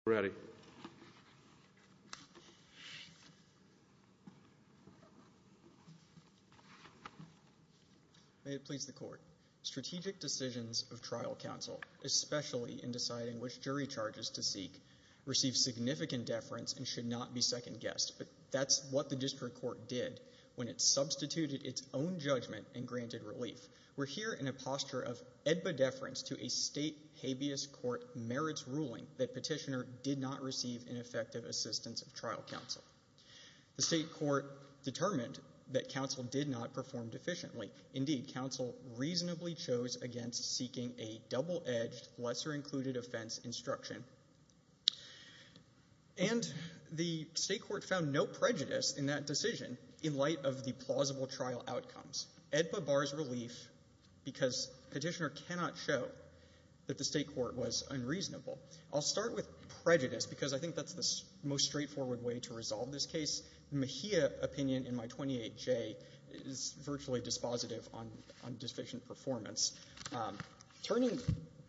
of Judicial Review and the Attorney General's Office. May it please the Court, Strategic decisions of trial counsel, especially in deciding which jury charges to seek, receive significant deference and should not be second-guessed. But that's what the District Court did when it substituted its own judgment and granted relief. We're here in a posture of ebbedeference to a state habeas court merits ruling that Petitioner did not receive an effective assistance of trial counsel. The State Court determined that counsel did not perform deficiently. Indeed, counsel reasonably chose against seeking a double-edged, lesser-included offense instruction. And the State Court found no prejudice in that decision in light of the plausible trial outcomes. EDPA bars relief because Petitioner cannot show that the State Court was unreasonable. I'll start with prejudice because I think that's the most straightforward way to resolve this case. The Mejia opinion in my 28J is virtually dispositive on deficient performance. Turning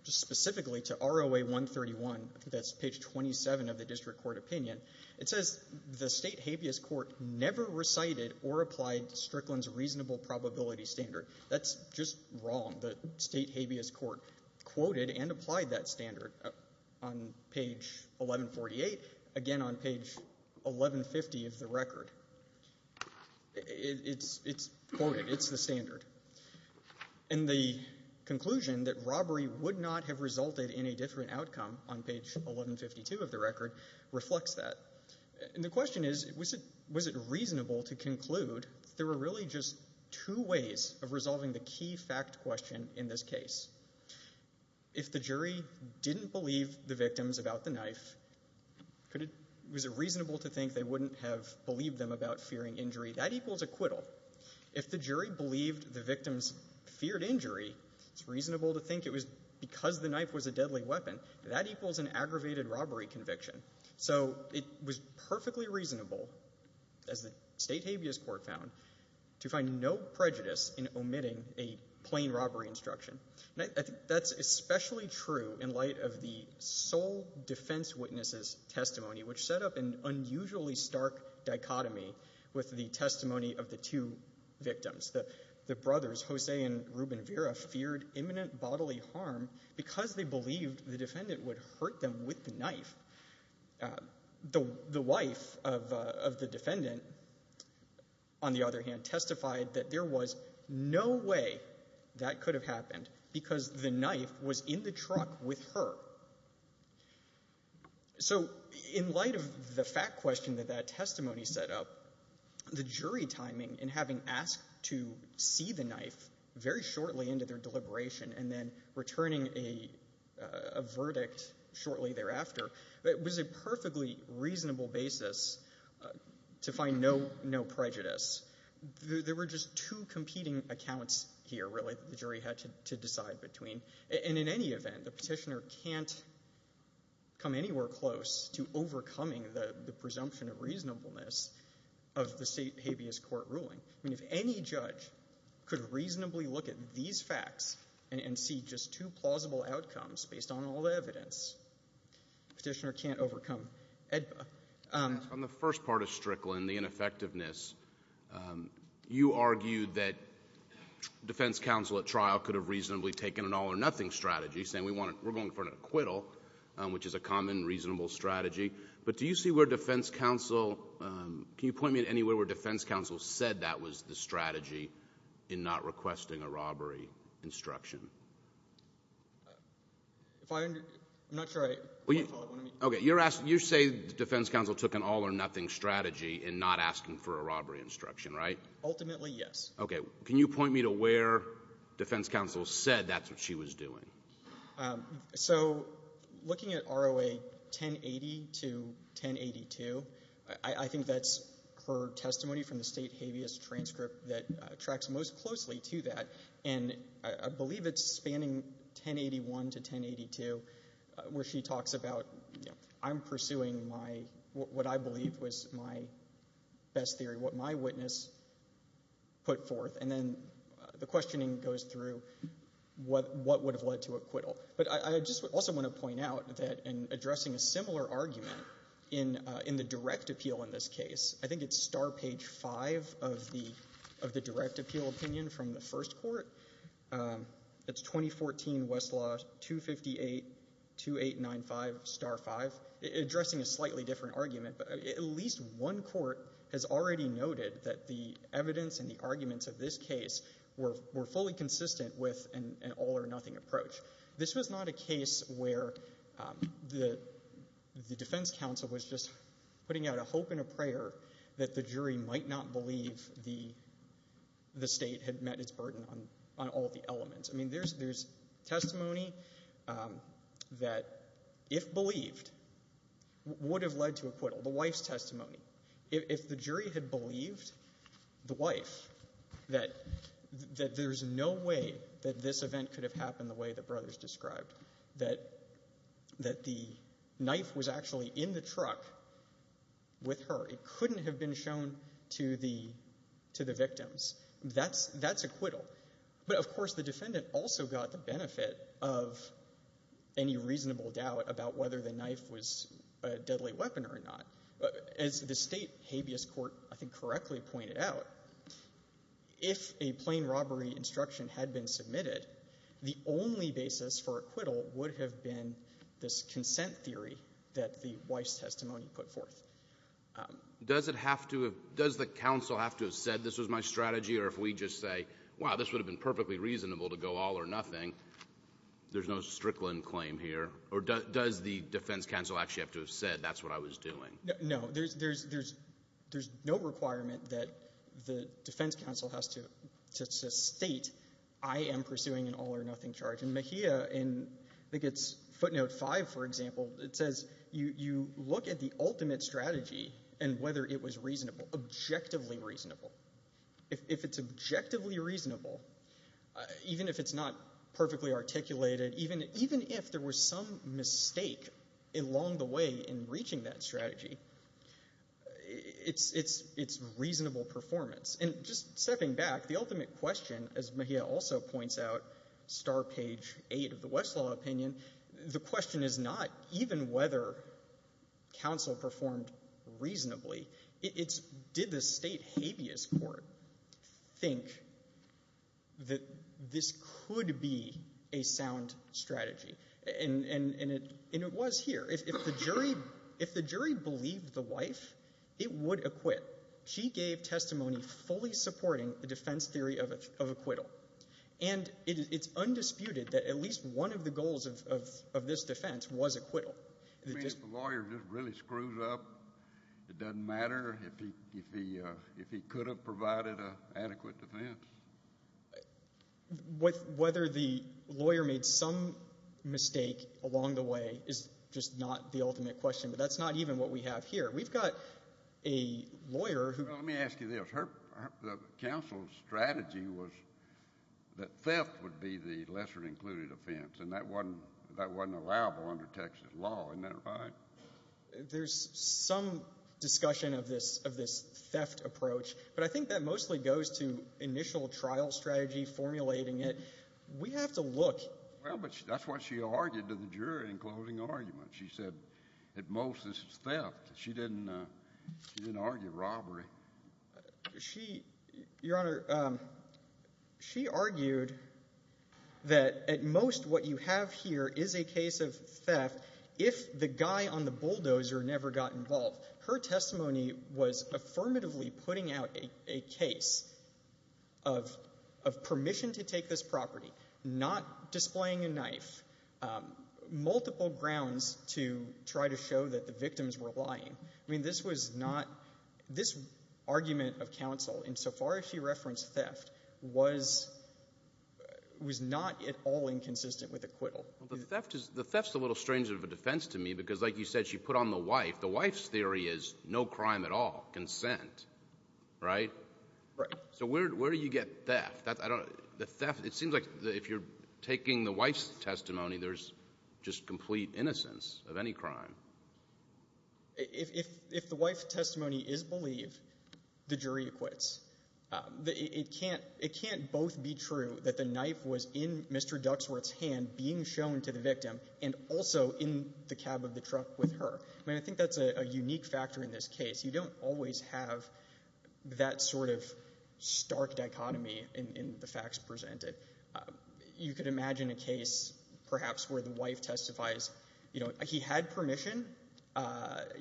specifically to ROA 131, that's page 27 of the District Court opinion, it says the State habeas court never recited or applied Strickland's reasonable probability standard. That's just wrong. The State habeas court quoted and applied that standard on page 1148, again on page 1150 of the record. It's quoted. It's the standard. And the conclusion that robbery would not have resulted in a different outcome on page 1152 of the record reflects that. And the question is, was it reasonable to conclude that there were really just two ways of resolving the key fact question in this case? If the jury didn't believe the victims about the knife, was it reasonable to think they wouldn't have believed them about fearing injury? That equals acquittal. If the jury believed the victims feared injury, it's reasonable to think it was because the knife was a deadly weapon. That equals an aggravated robbery conviction. So it was perfectly reasonable, as the State habeas court found, to find no prejudice in omitting a plain robbery instruction. And I think that's especially true in light of the sole defense witness's testimony, which set up an unusually stark dichotomy with the testimony of the two victims. The brothers, Jose and Ruben Vera, feared imminent bodily harm because they believed the defendant would hurt them with the knife. The wife of the defendant, on the other hand, testified that there was no way that could have happened because the knife was in the truck with her. So in light of the fact question that that testimony set up, the jury timing in having asked to see the knife very shortly into their deliberation and then returning a verdict shortly thereafter was a perfectly reasonable basis to find no prejudice. There were just two competing accounts here, really, that the jury had to decide between. And in any event, the petitioner can't come anywhere close to overcoming the presumption of reasonableness of the State habeas court ruling. I mean, if any judge could reasonably look at these facts and see just two plausible outcomes based on all the evidence, the petitioner can't overcome AEDPA. On the first part of Strickland, the ineffectiveness, you argued that defense counsel at trial could have reasonably taken an all-or-nothing strategy, saying we're going for an acquittal, which is a common, reasonable strategy. But do you see where defense counsel, can you point me at anywhere where defense counsel said that was the strategy in not requesting a robbery instruction? If I, I'm not sure I want to call it one of these. Okay, you're asking, you're saying defense counsel took an all-or-nothing strategy in not asking for a robbery instruction, right? Ultimately, yes. Okay. Can you point me to where defense counsel said that's what she was doing? So, looking at ROA 1080 to 1082, I think that's her testimony from the State habeas transcript that tracks most closely to that, and I believe it's spanning 1081 to 1082, where she talks about I'm pursuing my, what I believe was my best theory, what my witness put forth, and then the questioning goes through what would have led to acquittal. But I just also want to point out that in addressing a similar argument in the direct appeal in this case, I think it's star page 5 of the direct appeal opinion from the first court, it's 2014 Westlaw 258-2895, star 5, addressing a slightly different argument, but at least one court has already noted that the evidence and the arguments of this case were fully consistent with an all-or-nothing approach. This was not a case where the defense counsel was just putting out a hope and a prayer that the jury might not believe the State had met its burden on all the elements. I mean, there's testimony that, if believed, would have led to acquittal, the wife's testimony. If the jury had believed the wife that there's no way that this event could have happened the way the brothers described, that the knife was actually in the truck with her, it couldn't have been shown to the victims, that's acquittal. But, of course, the defendant also got the benefit of any reasonable doubt about whether the knife was a deadly weapon or not. As the State habeas court, I think, correctly pointed out, if a plain robbery instruction had been submitted, the only basis for acquittal would have been this consent theory that the wife's testimony put forth. Does it have to have, does the counsel have to have said this was my strategy or if we just say, wow, this would have been perfectly reasonable to go all-or-nothing, there's no Strickland claim here, or does the defense counsel actually have to have said that's what I was doing? No. There's no requirement that the defense counsel has to state, I am pursuing an all-or-nothing charge. In Mahia, I think it's footnote five, for example, it says, you look at the ultimate strategy and whether it was reasonable, objectively reasonable. If it's objectively reasonable, even if it's not perfectly articulated, even if there was some mistake along the way in reaching that strategy, it's reasonable performance. And just stepping back, the ultimate question, as Mahia also points out, star page 8 of the Westlaw opinion, the question is not even whether counsel performed reasonably. It's did the State habeas court think that this could be a sound strategy? And it was here. If the jury believed the wife, it would acquit. She gave testimony fully supporting the defense theory of acquittal. And it's undisputed that at least one of the goals of this defense was acquittal. I mean, if the lawyer just really screws up, it doesn't matter if he could have provided an adequate defense. Whether the lawyer made some mistake along the way is just not the ultimate question, but that's not even what we have here. We've got a lawyer who... Well, let me ask you this. Her counsel's strategy was that theft would be the lesser included offense. And that wasn't allowable under Texas law. Isn't that right? There's some discussion of this theft approach, but I think that mostly goes to initial trial strategy, formulating it. We have to look... Well, but that's what she argued to the jury in closing argument. She said that most of this is theft. She didn't argue robbery. Your Honor, she argued that at most what you have here is a case of theft if the guy on the bulldozer never got involved. Her testimony was affirmatively putting out a case of permission to take this property, not displaying a knife, multiple grounds to try to show that the victims were lying. I mean, this was not... This argument of counsel, insofar as she referenced theft, was not at all inconsistent with acquittal. Well, the theft is a little strange of a defense to me because, like you said, she put on the wife. The wife's theory is no crime at all, consent, right? Right. So where do you get theft? The theft, it seems like if you're taking the wife's testimony, there's just complete innocence of any crime. If the wife's testimony is believed, the jury acquits. It can't both be true that the knife was in Mr. Duxworth's hand being shown to the victim and also in the cab of the truck with her. I mean, I think that's a unique factor in this case. You don't always have that sort of stark dichotomy in the facts presented. You could imagine a case, perhaps, where the wife testifies, you know, he had permission.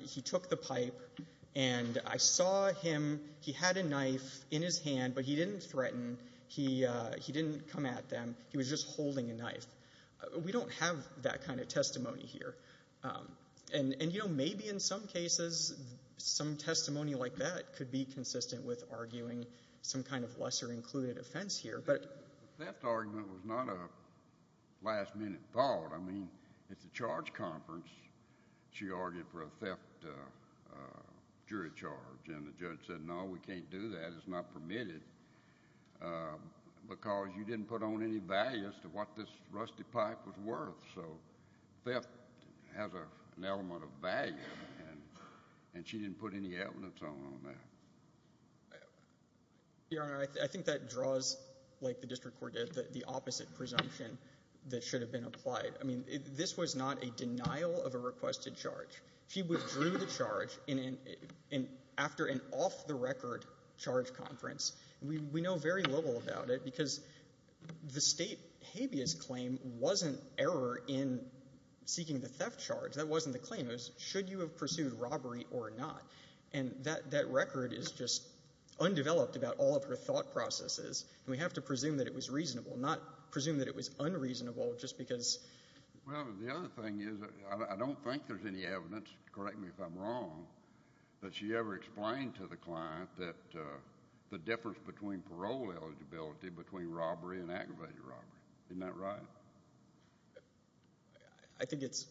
He took the pipe and I saw him. He had a knife in his hand, but he didn't threaten. He didn't come at them. He was just holding a knife. We don't have that kind of testimony here. And, you know, maybe in some cases, some testimony like that could be consistent with arguing some kind of lesser-included offense here. The theft argument was not a last-minute thought. I mean, at the charge conference, she argued for a theft jury charge, and the judge said, no, we can't do that. It's not permitted because you didn't put on any value as to what this rusty pipe was worth. So theft has an element of value, and she didn't put any evidence on that. Your Honor, I think that draws, like the district court did, the opposite presumption that should have been applied. I mean, this was not a denial of a requested charge. She withdrew the charge after an off-the-record charge conference. We know very little about it because the state habeas claim wasn't error in seeking the theft charge. That wasn't the claim. It was, should you have pursued robbery or not? And that record is just undeveloped about all of her thought processes, and we have to presume that it was reasonable, not presume that it was unreasonable just because... Well, the other thing is, I don't think there's any evidence, correct me if I'm wrong, that she ever explained to the client that the difference between parole eligibility between robbery and aggravated robbery, isn't that right? I think it's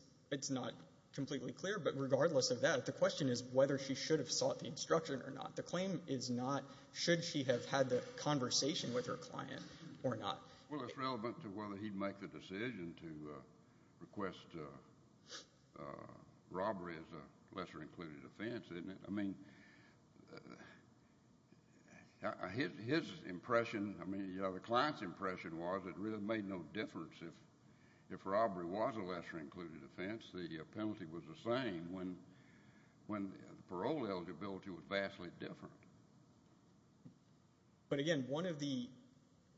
not completely clear, but regardless of that, the question is whether she should have sought the instruction or not. The claim is not, should she have had the conversation with her client or not. Well, it's relevant to whether he'd make the decision to request robbery as a lesser-included offense, isn't it? I mean, his impression, the client's impression was it really made no difference if robbery was a lesser-included offense. The penalty was the same when parole eligibility was vastly different. But again, one of the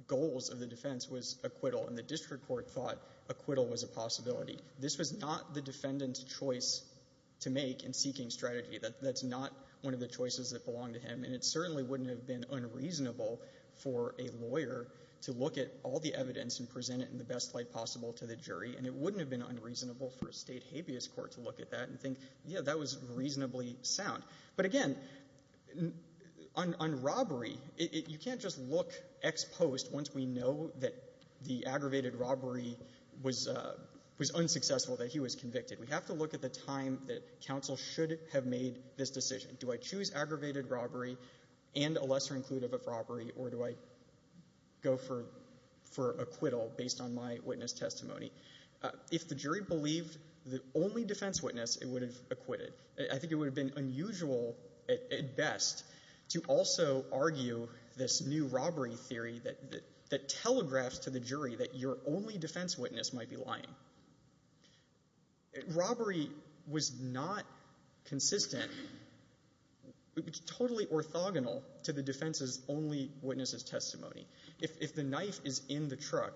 goals of the defense was acquittal, and the district court thought acquittal was a possibility. This was not the defendant's choice to make in seeking strategy. That's not one of the choices that belonged to him, and it certainly wouldn't have been unreasonable for a lawyer to look at all the evidence and present it in the best light possible to the jury, and it wouldn't have been unreasonable for a state habeas court to look at that and think, yeah, that was reasonably sound. But again, on robbery, you can't just look ex post once we know that the aggravated robbery was unsuccessful, that he was convicted. We have to look at the time that counsel should have made this decision. Do I choose aggravated robbery and a lesser-included robbery, or do I go for acquittal based on my witness testimony? If the jury believed the only defense witness, it would have acquitted. I think it would have been unusual at best to also argue this new robbery theory that telegraphs to the jury that your only defense witness might be lying. Robbery was not consistent, totally orthogonal to the defense's only witness's testimony. If the knife is in the truck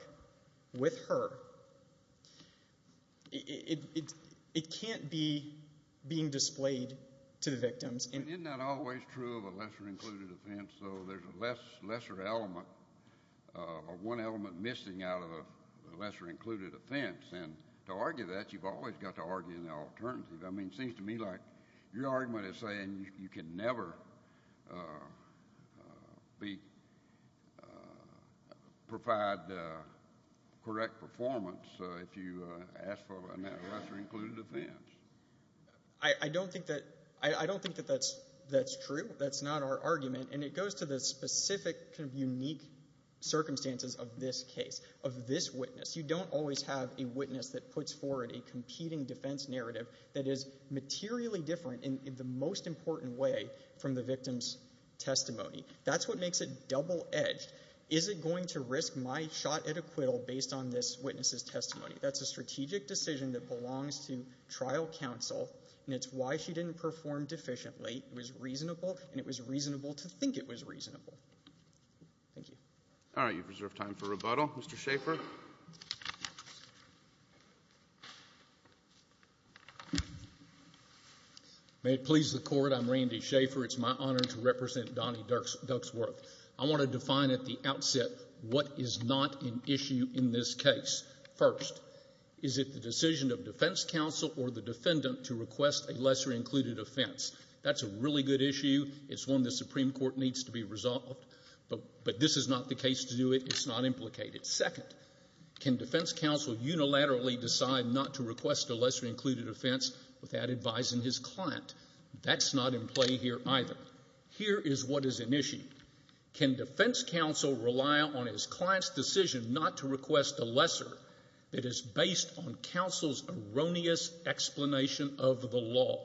with her, it can't be being displayed to the victims. Isn't that always true of a lesser-included offense, though? There's a lesser element or one element missing out of a lesser-included offense, and to argue that, you've always got to argue in the alternative. I mean, it seems to me like your argument is saying you can never provide correct performance if you ask for a lesser-included offense. I don't think that that's true. That's not our argument, and it goes to the specific, unique circumstances of this case, of this witness. You don't always have a witness that puts forward a competing defense narrative that is materially different in the most important way from the victim's testimony. That's what makes it double-edged. Is it going to risk my shot at acquittal based on this witness's testimony? That's a strategic decision that belongs to trial counsel, and it's why she didn't perform deficiently. It was reasonable, and it was reasonable to think it was reasonable. Thank you. All right. You've reserved time for rebuttal. Mr. Schaffer? May it please the Court. I'm Randy Schaffer. It's my honor to represent Donnie Duxworth. I want to define at the outset what is not an issue in this case. First, is it the decision of defense counsel or the defendant to request a lesser-included offense? That's a really good issue. It's one the Supreme Court needs to be resolved, but this is not the case to do it. It's not implicated. Second, can defense counsel unilaterally decide not to request a lesser-included offense without advising his client? That's not in play here either. Here is what is an issue. Can defense counsel rely on his client's decision not to request a lesser that is based on counsel's erroneous explanation of the law?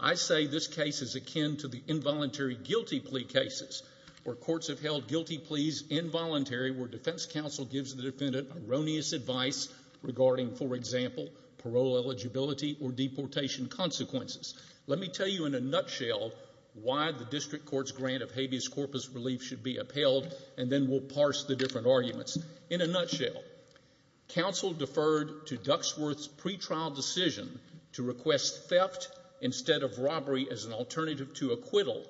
I say this case is akin to the involuntary guilty plea cases where courts have held guilty pleas involuntary where defense counsel gives the defendant erroneous advice regarding, for example, parole eligibility or deportation consequences. Let me tell you in a nutshell why the district court's grant of habeas corpus relief should be upheld and then we'll parse the different arguments. In a nutshell, counsel deferred to Duxworth's pretrial decision to request theft instead of robbery as an alternative to acquittal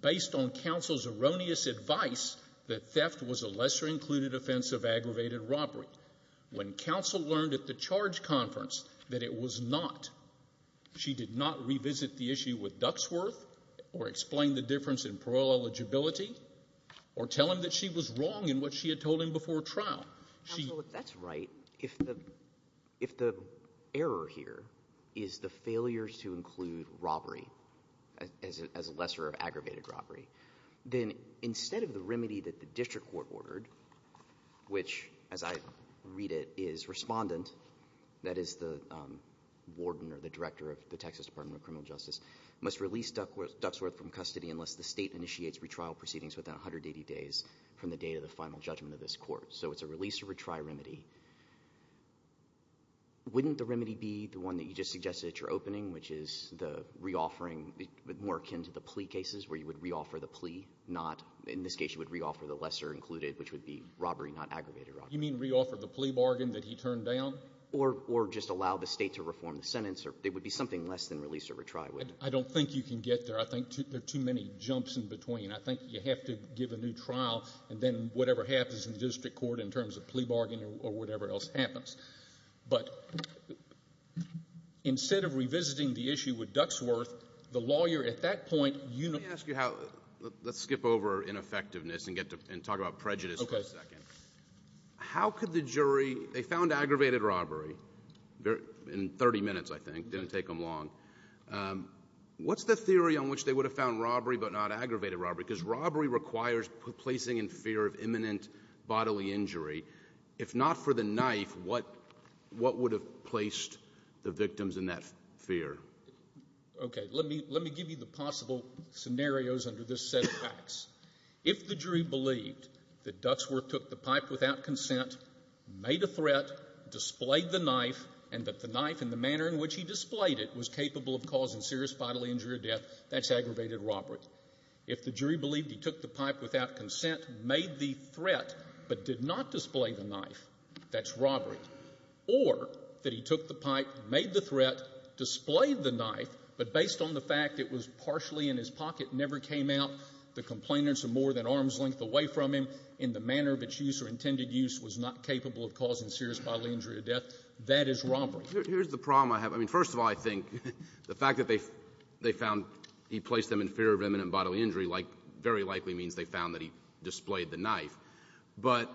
based on counsel's erroneous advice that theft was a lesser-included offense of aggravated robbery. When counsel learned at the charge conference that it was not, she did not revisit the issue with Duxworth or explain the difference in parole eligibility or tell him that she was wrong in what she had told him before trial. That's right. If the error here is the failure to include robbery as a lesser of aggravated robbery, then instead of the remedy that the district court ordered, which, as I read it, is respondent, that is the warden or the director of the Texas Department of Criminal Justice, must release Duxworth from custody unless the state initiates retrial proceedings within 180 days from the date of the final judgment of this court. So it's a release or retry remedy. Wouldn't the remedy be the one that you just suggested at your opening, which is the re-offering more akin to the plea cases where you would re-offer the plea, not, in this case, you would re-offer the lesser-included, which would be robbery, not aggravated robbery? You mean re-offer the plea bargain that he turned down? Or just allow the state to reform the sentence? It would be something less than release or retry, wouldn't it? I don't think you can get there. I think there are too many jumps in between. I think you have to give a new trial, and then whatever happens in the district court in terms of plea bargain or whatever else happens. But instead of revisiting the issue with Duxworth, the lawyer at that point, you know — Let me ask you how — let's skip over ineffectiveness and get to — and talk about prejudice for a second. Okay. How could the jury — they found aggravated robbery in 30 minutes, I think. Didn't take them long. What's the theory on which they would have found robbery but not aggravated robbery? Because robbery requires placing in fear of imminent bodily injury. If not for the knife, what would have placed the victims in that fear? Okay. Let me give you the possible scenarios under this set of facts. If the jury believed that Duxworth took the pipe without consent, made a threat, displayed the knife, and that the knife and the manner in which he displayed it was capable of causing serious bodily injury or death, that's aggravated robbery. If the jury believed he took the pipe without consent, made the threat, but did not display the knife, that's robbery. Or that he took the pipe, made the threat, displayed the knife, but based on the fact it was partially in his pocket, never came out, the complainants are more than arm's length away from him, and the manner of its use or intended use was not capable of causing serious bodily injury or death, that is robbery. Here's the problem I have. I mean, first of all, I think the fact that they found he placed them in fear of imminent bodily injury like — very likely means they found that he displayed the knife. But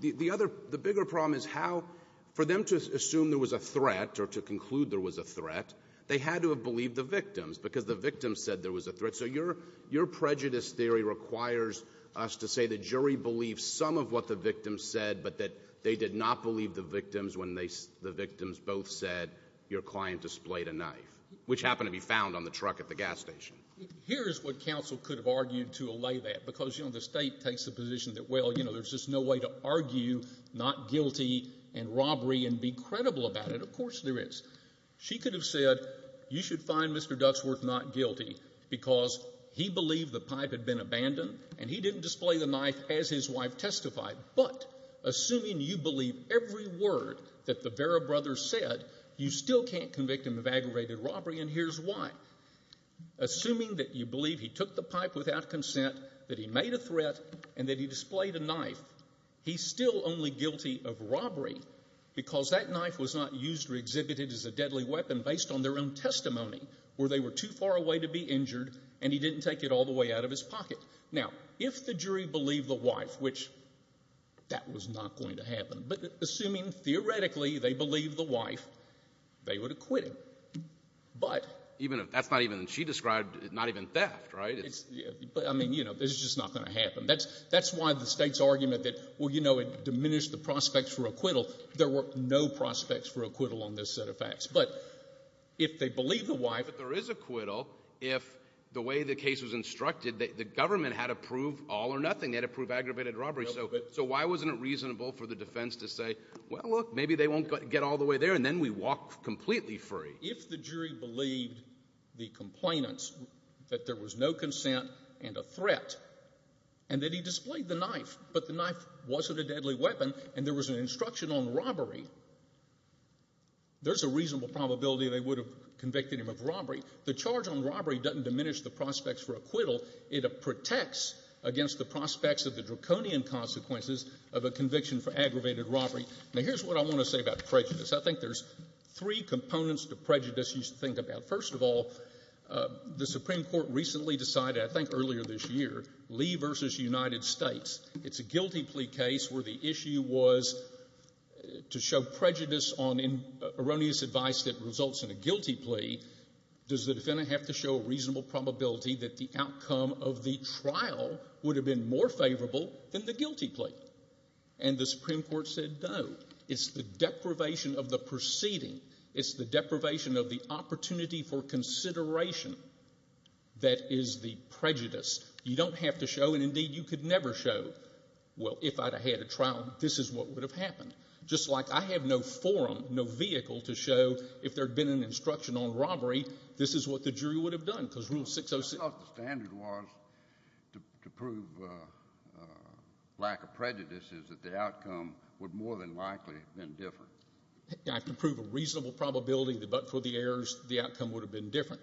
the other — the bigger problem is how — for them to assume there was a threat or to conclude there was a threat, they had to have believed the victims, because the victims said there was a threat. So your prejudice theory requires us to say the jury believed some of what the victims said, but that they did not believe the victims when the victims both said your client displayed a knife, which happened to be found on the truck at the gas station. Here is what counsel could have argued to allay that, because, you know, the state takes the position that, well, you know, there's just no way to argue not guilty and robbery and be credible about it. Of course there is. She could have said, you should find Mr. Duxworth not guilty because he believed the pipe had been abandoned and he didn't display the knife as his wife testified. But assuming you believe every word that the Vera brothers said, you still can't convict him of aggravated robbery, and here's why. Assuming that you believe he took the pipe without consent, that he made a threat, and that he displayed a knife, he's still only guilty of robbery because that knife was not used or exhibited as a deadly weapon based on their own testimony, where they were too far away to be injured and he didn't take it all the way out of his pocket. Now, if the jury believed the wife, which that was not going to happen, but assuming theoretically they believed the wife, they would acquit him. But — Even if — that's not even — she described not even theft, right? It's — I mean, you know, it's just not going to happen. That's why the State's argument that, well, you know, it diminished the prospects for acquittal, there were no prospects for acquittal on this set of facts. But if they believe the wife — But there is acquittal if the way the case was instructed, the government had to prove all or nothing. They had to prove aggravated robbery. So why wasn't it reasonable for the defense to say, well, look, maybe they won't get all the way there, and then we walk completely free? If the jury believed the complainants, that there was no consent and a threat, and that he displayed the knife, but the knife wasn't a deadly weapon and there was an instruction on robbery, there's a reasonable probability they would have convicted him of robbery. The charge on robbery doesn't diminish the prospects for acquittal. It protects against the prospects of the draconian consequences of a conviction for aggravated robbery. Now, here's what I want to say about prejudice. I think there's three components to prejudice you should think about. First of all, the Supreme Court recently decided, I think earlier this year, Lee v. United States. It's a guilty plea case where the issue was to show prejudice on erroneous advice that results in a guilty plea. Does the defendant have to show a reasonable probability that the outcome of the trial would have been more favorable than the guilty plea? And the Supreme Court said no. It's the deprivation of the proceeding. It's the deprivation of the opportunity for consideration that is the prejudice. You don't have to show, and indeed, you could never show, well, if I'd have had a trial, this is what would have happened. Just like I have no forum, no vehicle to show if there'd been an instruction on robbery, this is what the jury would have done, because Rule 606. What I thought the standard was to prove lack of prejudice is that the outcome would more than likely have been different. You have to prove a reasonable probability, but for the errors, the outcome would have been different.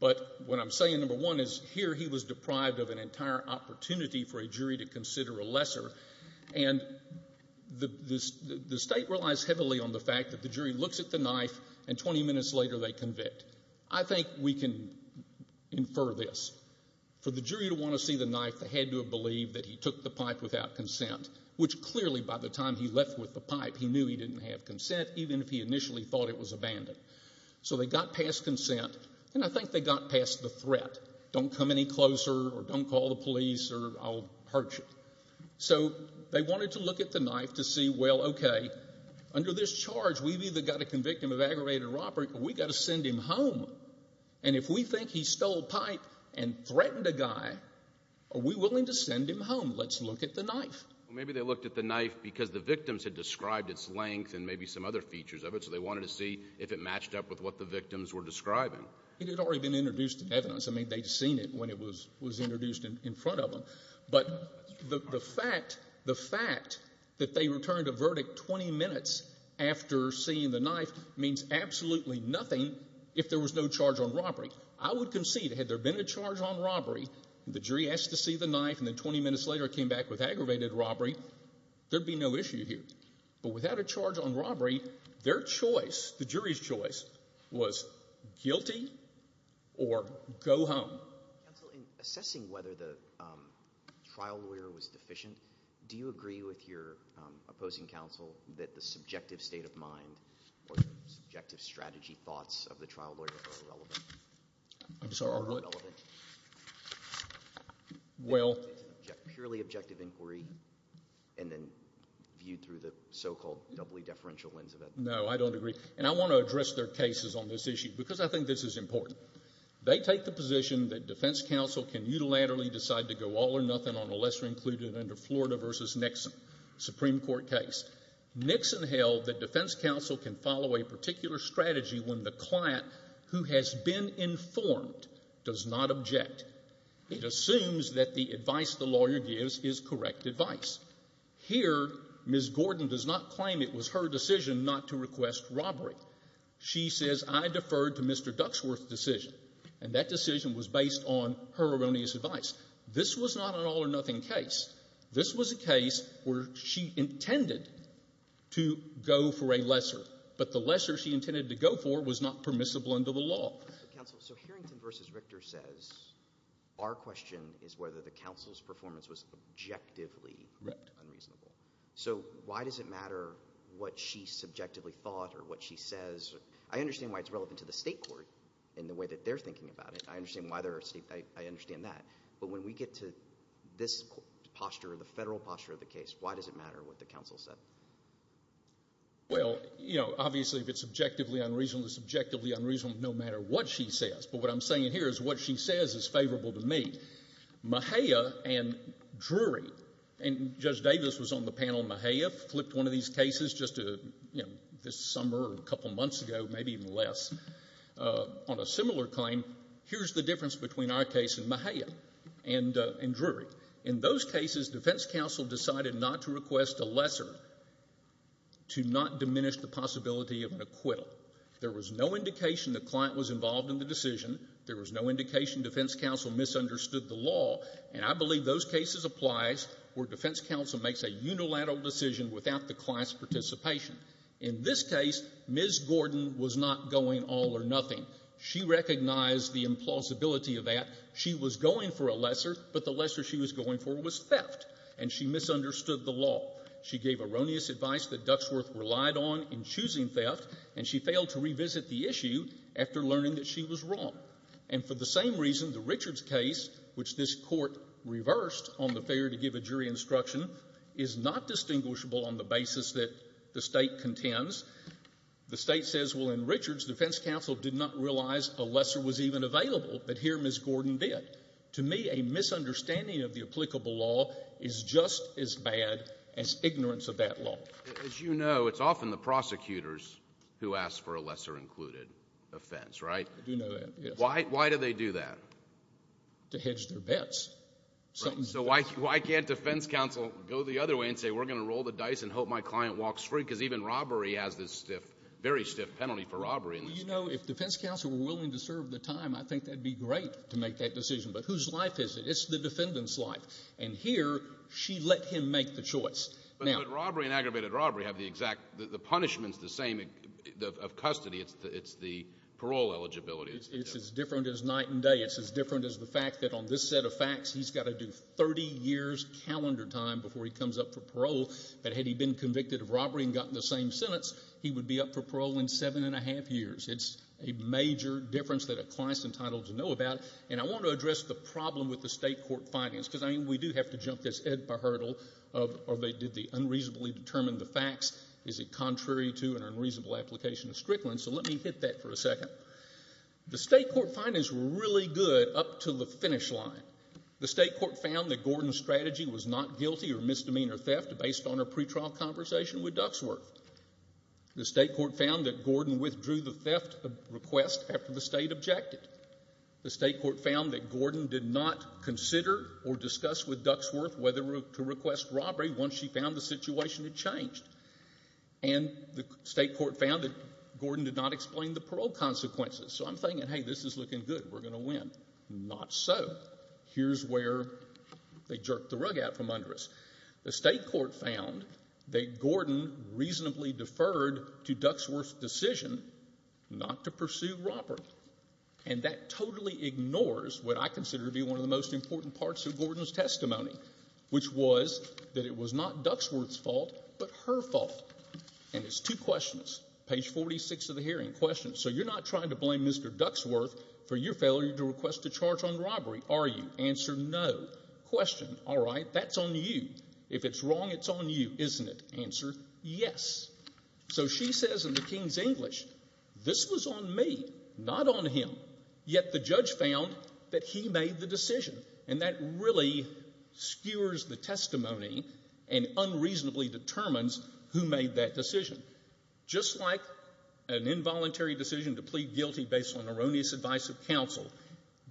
But what I'm saying, number one, is here he was deprived of an entire opportunity for a jury to consider a lesser, and the state relies heavily on the fact that the jury looks at the knife, and 20 minutes later, they convict. I think we can infer this. For the jury to want to see the knife, they had to have believed that he took the pipe without consent, which clearly, by the time he left with the pipe, he knew he didn't have consent, even if he initially thought it was abandoned. So they got past consent, and I think they got past the threat. Don't come any closer, or don't call the police, or I'll hurt you. So they wanted to look at the knife to see, well, okay, under this charge, we've either got to convict him of aggravated robbery, or we've got to send him home. And if we think he stole a pipe and threatened a guy, are we willing to send him home? Let's look at the knife. Well, maybe they looked at the knife because the victims had described its length and maybe some other features of it, so they wanted to see if it matched up with what the victims were describing. It had already been introduced in evidence. I mean, they'd seen it when it was introduced in front of them. But the fact that they returned a verdict 20 minutes after seeing the knife means absolutely nothing if there was no charge on robbery. I would concede, had there been a charge on robbery, the jury asked to see the knife, and then 20 minutes later it came back with aggravated robbery, there'd be no issue here. But without a charge on robbery, their choice, the jury's choice, was guilty or go home. Counsel, in assessing whether the trial lawyer was deficient, do you agree with your opposing counsel that the subjective state of mind or subjective strategy thoughts of the trial lawyer are irrelevant? I'm sorry, are what? Are irrelevant? Well... Purely objective inquiry, and then viewed through the so-called doubly-deferential lens of it. No, I don't agree. And I want to address their cases on this issue, because I think this is important. They take the position that defense counsel can unilaterally decide to go all or nothing on a lesser-included under Florida v. Nixon Supreme Court case. Nixon held that defense counsel can follow a particular strategy when the client who has been informed does not object. It assumes that the advice the lawyer gives is correct advice. Here, Ms. Gordon does not claim it was her decision not to request robbery. She says, I deferred to Mr. Duxworth's decision, and that decision was based on her erroneous advice. This was not an all-or-nothing case. This was a case where she intended to go for a lesser, but the lesser she intended to go for was not permissible under the law. Counsel, so Harrington v. Richter says our question is whether the counsel's performance was objectively unreasonable. So why does it matter what she subjectively thought or what she says? I understand why it's relevant to the state court in the way that they're thinking about it. I understand why they're—I understand that. But when we get to this posture, the federal posture of the case, why does it matter what the counsel said? Well, you know, obviously, if it's objectively unreasonable, it's objectively unreasonable no matter what she says. But what I'm saying here is what she says is favorable to me. Mejia and Drury—and Judge Davis was on the panel on Mejia, flipped one of these cases just this summer or a couple months ago, maybe even less, on a similar claim. Here's the difference between our case and Mejia and Drury. In those cases, defense counsel decided not to request a lesser to not diminish the possibility of an acquittal. There was no indication the client was involved in the decision. There was no indication defense counsel misunderstood the law. And I believe those cases applies where defense counsel makes a unilateral decision without the client's participation. In this case, Ms. Gordon was not going all or nothing. She recognized the implausibility of that. She was going for a lesser, but the lesser she was going for was theft, and she misunderstood the law. She gave erroneous advice that Duxworth relied on in choosing theft, and she failed to revisit the issue after learning that she was wrong. And for the same reason, the Richards case, which this Court reversed on the failure to give a jury instruction, is not distinguishable on the basis that the State contends. The State says, well, in Richards, defense counsel did not realize a lesser was even available, but here Ms. Gordon did. To me, a misunderstanding of the applicable law is just as bad as ignorance of that law. As you know, it's often the prosecutors who ask for a lesser included offense, right? I do know that, yes. Why do they do that? To hedge their bets. So why can't defense counsel go the other way and say, we're going to roll the dice and hope my client walks free, because even robbery has this stiff, very stiff penalty for robbery. You know, if defense counsel were willing to serve the time, I think that'd be great to make that decision. But whose life is it? It's the defendant's life. And here, she let him make the choice. But robbery and aggravated robbery have the exact, the punishment's the same of custody. It's the parole eligibility. It's as different as night and day. It's as different as the fact that on this set of facts, he's got to do 30 years calendar time before he comes up for parole. But had he been convicted of robbery and gotten the same sentence, he would be up for parole in seven and a half years. It's a major difference that a client's entitled to know about. And I want to address the problem with the State court findings, because I mean, we do have to jump this hurdle of, or they did the unreasonably determined the facts. Is it contrary to an unreasonable application of Strickland? So let me hit that for a second. The State court findings were really good up to the finish line. The State court found that Gordon's strategy was not guilty of misdemeanor theft based on her pretrial conversation with Duxworth. The State court found that Gordon withdrew the theft request after the State objected. The State court found that Gordon did not consider or discuss with Duxworth whether to request robbery once she found the situation had changed. And the State court found that Gordon did not explain the parole consequences. So I'm thinking, hey, this is looking good. We're going to win. Not so. Here's where they jerked the rug out from under us. The State court found that Gordon reasonably deferred to Duxworth's decision not to pursue robbery. And that totally ignores what I consider to be one of the most important parts of Gordon's testimony, which was that it was not Duxworth's fault, but her fault. And it's two questions. Page 46 of the hearing. Question. So you're not trying to blame Mr. Duxworth for your failure to request a charge on robbery, are you? Answer, no. Question. All right. That's on you. If it's wrong, it's on you, isn't it? Answer, yes. So she says in the King's English, this was on me, not on him. Yet the judge found that he made the decision. And that really skewers the testimony and unreasonably determines who made that decision. Just like an involuntary decision to plead guilty based on erroneous advice of counsel,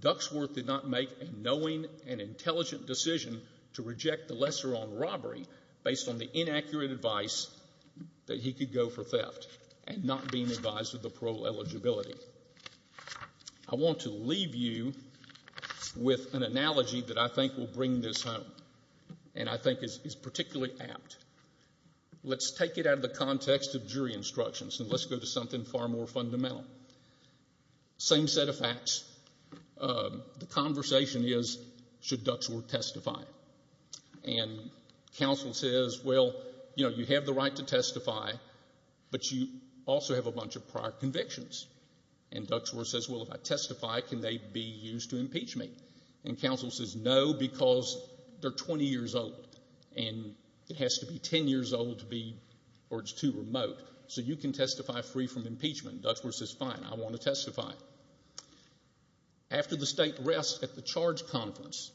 Duxworth did not make a knowing and intelligent decision to reject the lesser on robbery based on the inaccurate advice that he could go for theft and not being advised of the parole eligibility. I want to leave you with an analogy that I think will bring this home and I think is particularly apt. Let's take it out of the context of jury instructions and let's go to something far more fundamental. Same set of facts. The conversation is, should Duxworth testify? And counsel says, well, you know, you have the right to testify, but you also have a bunch of prior convictions. And Duxworth says, well, if I testify, can they be used to impeach me? And counsel says, no, because they're 20 years old and it has to be 10 years old to be, or it's too remote, so you can testify free from impeachment. Why? After the state rests at the charge conference,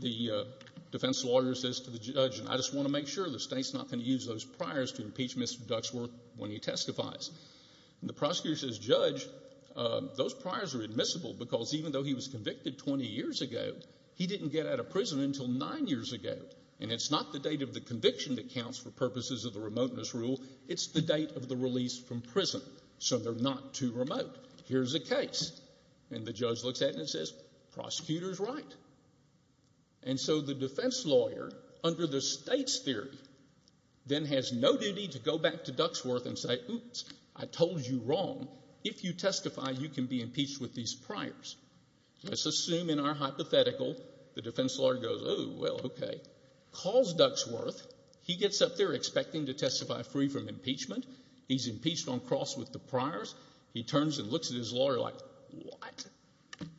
the defense lawyer says to the judge, and I just want to make sure the state's not going to use those priors to impeach Mr. Duxworth when he testifies. And the prosecutor says, judge, those priors are admissible because even though he was convicted 20 years ago, he didn't get out of prison until nine years ago. And it's not the date of the conviction that counts for purposes of the remoteness rule, it's the date of the release from prison, so they're not too remote. Here's a case. And the judge looks at it and says, prosecutor's right. And so the defense lawyer, under the state's theory, then has no duty to go back to Duxworth and say, oops, I told you wrong. If you testify, you can be impeached with these priors. Let's assume in our hypothetical the defense lawyer goes, oh, well, okay, calls Duxworth, he gets up there expecting to testify free from impeachment, he's impeached on cross with the priors, he turns and looks at his lawyer like, what?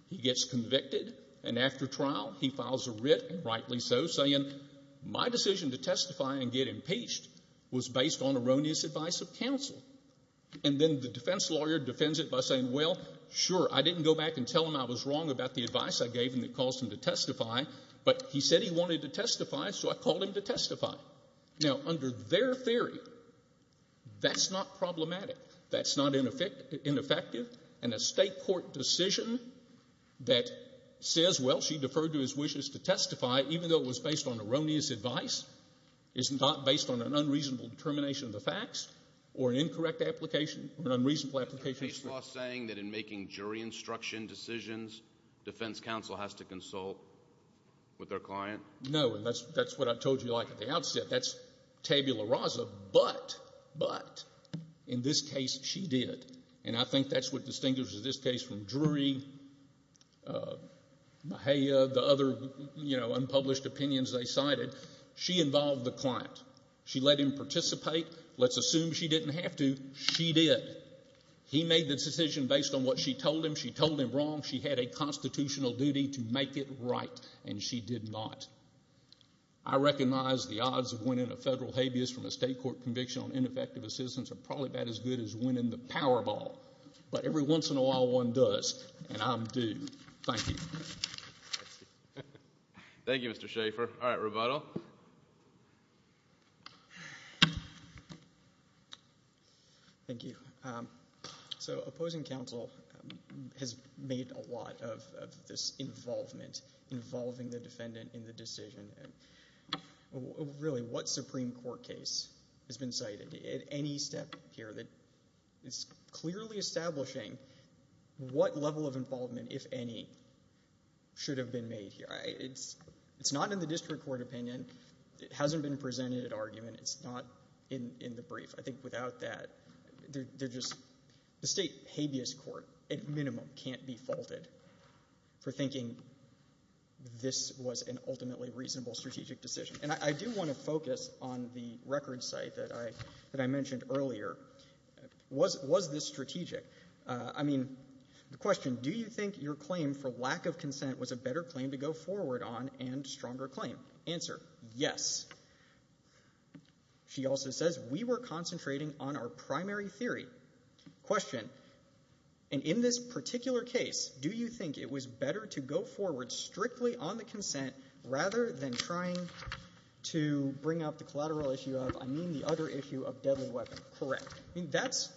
He gets convicted, and after trial, he files a writ, and rightly so, saying, my decision to testify and get impeached was based on erroneous advice of counsel. And then the defense lawyer defends it by saying, well, sure, I didn't go back and tell him I was wrong about the advice I gave him that caused him to testify, but he said he didn't testify. Now, under their theory, that's not problematic. That's not ineffective, and a state court decision that says, well, she deferred to his wishes to testify, even though it was based on erroneous advice, is not based on an unreasonable determination of the facts or an incorrect application or an unreasonable application. Is the law saying that in making jury instruction decisions, defense counsel has to consult with their client? No. And that's what I told you, like, at the outset. That's tabula rasa, but, but, in this case, she did. And I think that's what distinguishes this case from Drury, Mejia, the other, you know, unpublished opinions they cited. She involved the client. She let him participate. Let's assume she didn't have to. She did. He made the decision based on what she told him. She told him wrong. She had a constitutional duty to make it right, and she did not. I recognize the odds of winning a federal habeas from a state court conviction on ineffective assistance are probably about as good as winning the Powerball. But every once in a while, one does, and I'm due. Thank you. Thank you, Mr. Schaffer. All right, rebuttal. Thank you. So, opposing counsel has made a lot of this involvement, involving the defendant in the decision, and really, what Supreme Court case has been cited at any step here that is clearly establishing what level of involvement, if any, should have been made here. It's not in the district court opinion. It hasn't been presented at argument. It's not in the brief. I think without that, they're just, the state habeas court, at minimum, can't be faulted for thinking this was an ultimately reasonable strategic decision. And I do want to focus on the record site that I mentioned earlier. Was this strategic? I mean, the question, do you think your claim for lack of consent was a better claim to go forward on and stronger claim? Answer, yes. She also says, we were concentrating on our primary theory. Question, and in this particular case, do you think it was better to go forward strictly on the consent rather than trying to bring up the collateral issue of, I mean, the other issue of deadly weapon? Correct. I mean, that's,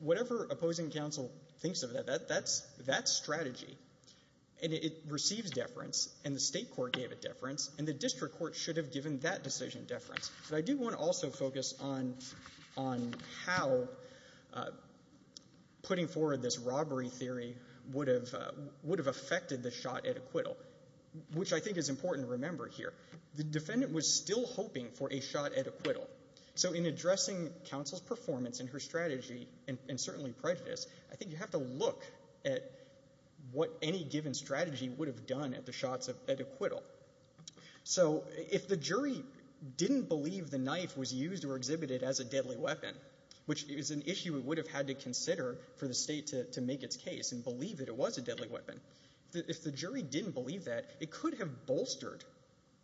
whatever opposing counsel thinks of that, that's strategy. And it receives deference, and the state court gave it deference, and the district court should have given that decision deference. But I do want to also focus on how putting forward this robbery theory would have affected the shot at acquittal, which I think is important to remember here. The defendant was still hoping for a shot at acquittal. So in addressing counsel's performance and her strategy, and certainly prejudice, I think you have to look at what any given strategy would have done at the shots at acquittal. So if the jury didn't believe the knife was used or exhibited as a deadly weapon, which is an issue it would have had to consider for the state to make its case and believe that it was a deadly weapon, if the jury didn't believe that, it could have bolstered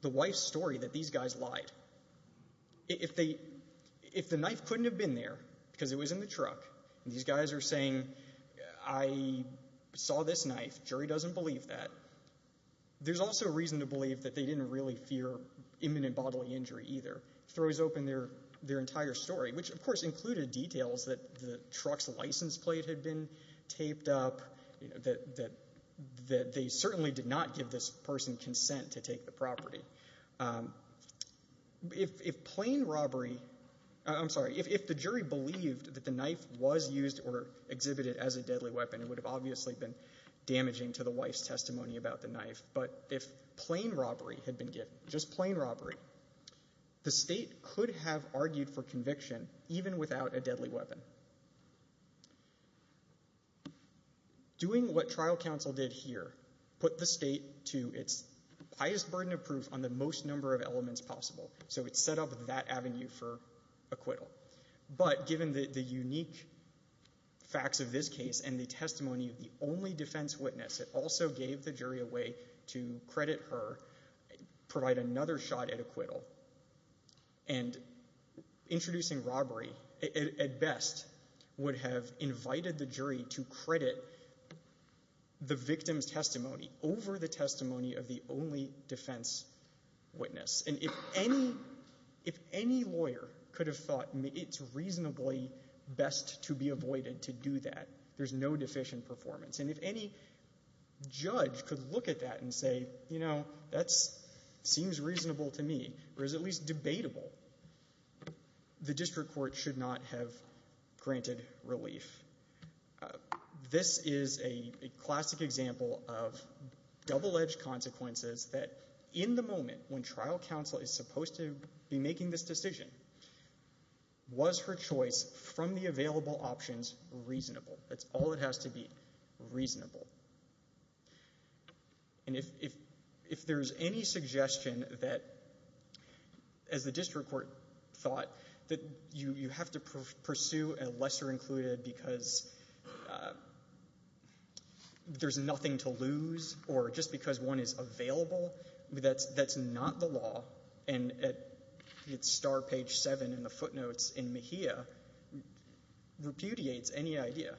the wife's story that these guys lied. If they, if the knife couldn't have been there because it was in the truck, and these guys are saying, I saw this knife, jury doesn't believe that, there's also reason to believe that they didn't really fear imminent bodily injury either. It throws open their entire story, which of course included details that the truck's license plate had been taped up, you know, that they certainly did not give this person consent to take the property. If plain robbery, I'm sorry, if the jury believed that the knife was used or exhibited as a deadly weapon, it would have obviously been damaging to the wife's testimony about the knife, but if plain robbery had been given, just plain robbery, the state could have argued for conviction even without a deadly weapon. Doing what trial counsel did here, put the state to its highest burden of proof on the most number of elements possible, so it set up that avenue for acquittal. But given the unique facts of this case and the testimony of the only defense witness, it also gave the jury a way to credit her, provide another shot at acquittal, and introducing robbery at best would have invited the jury to credit the victim's testimony over the witness. And if any lawyer could have thought it's reasonably best to be avoided to do that, there's no deficient performance. And if any judge could look at that and say, you know, that seems reasonable to me, or is at least debatable, the district court should not have granted relief. This is a classic example of double-edged consequences that in the moment when trial counsel is supposed to be making this decision, was her choice from the available options reasonable? That's all that has to be reasonable. And if there's any suggestion that, as the district court thought, that you have to pursue a lesser included because there's nothing to lose or just because one is available, that's not the law. And at star page 7 in the footnotes in Mejia, repudiates any idea.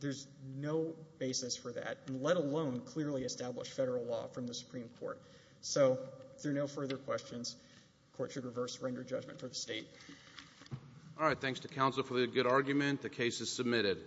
There's no basis for that, let alone clearly established federal law from the Supreme Court. So through no further questions, the court should reverse render judgment for the state. All right, thanks to counsel for the good argument. The case is submitted.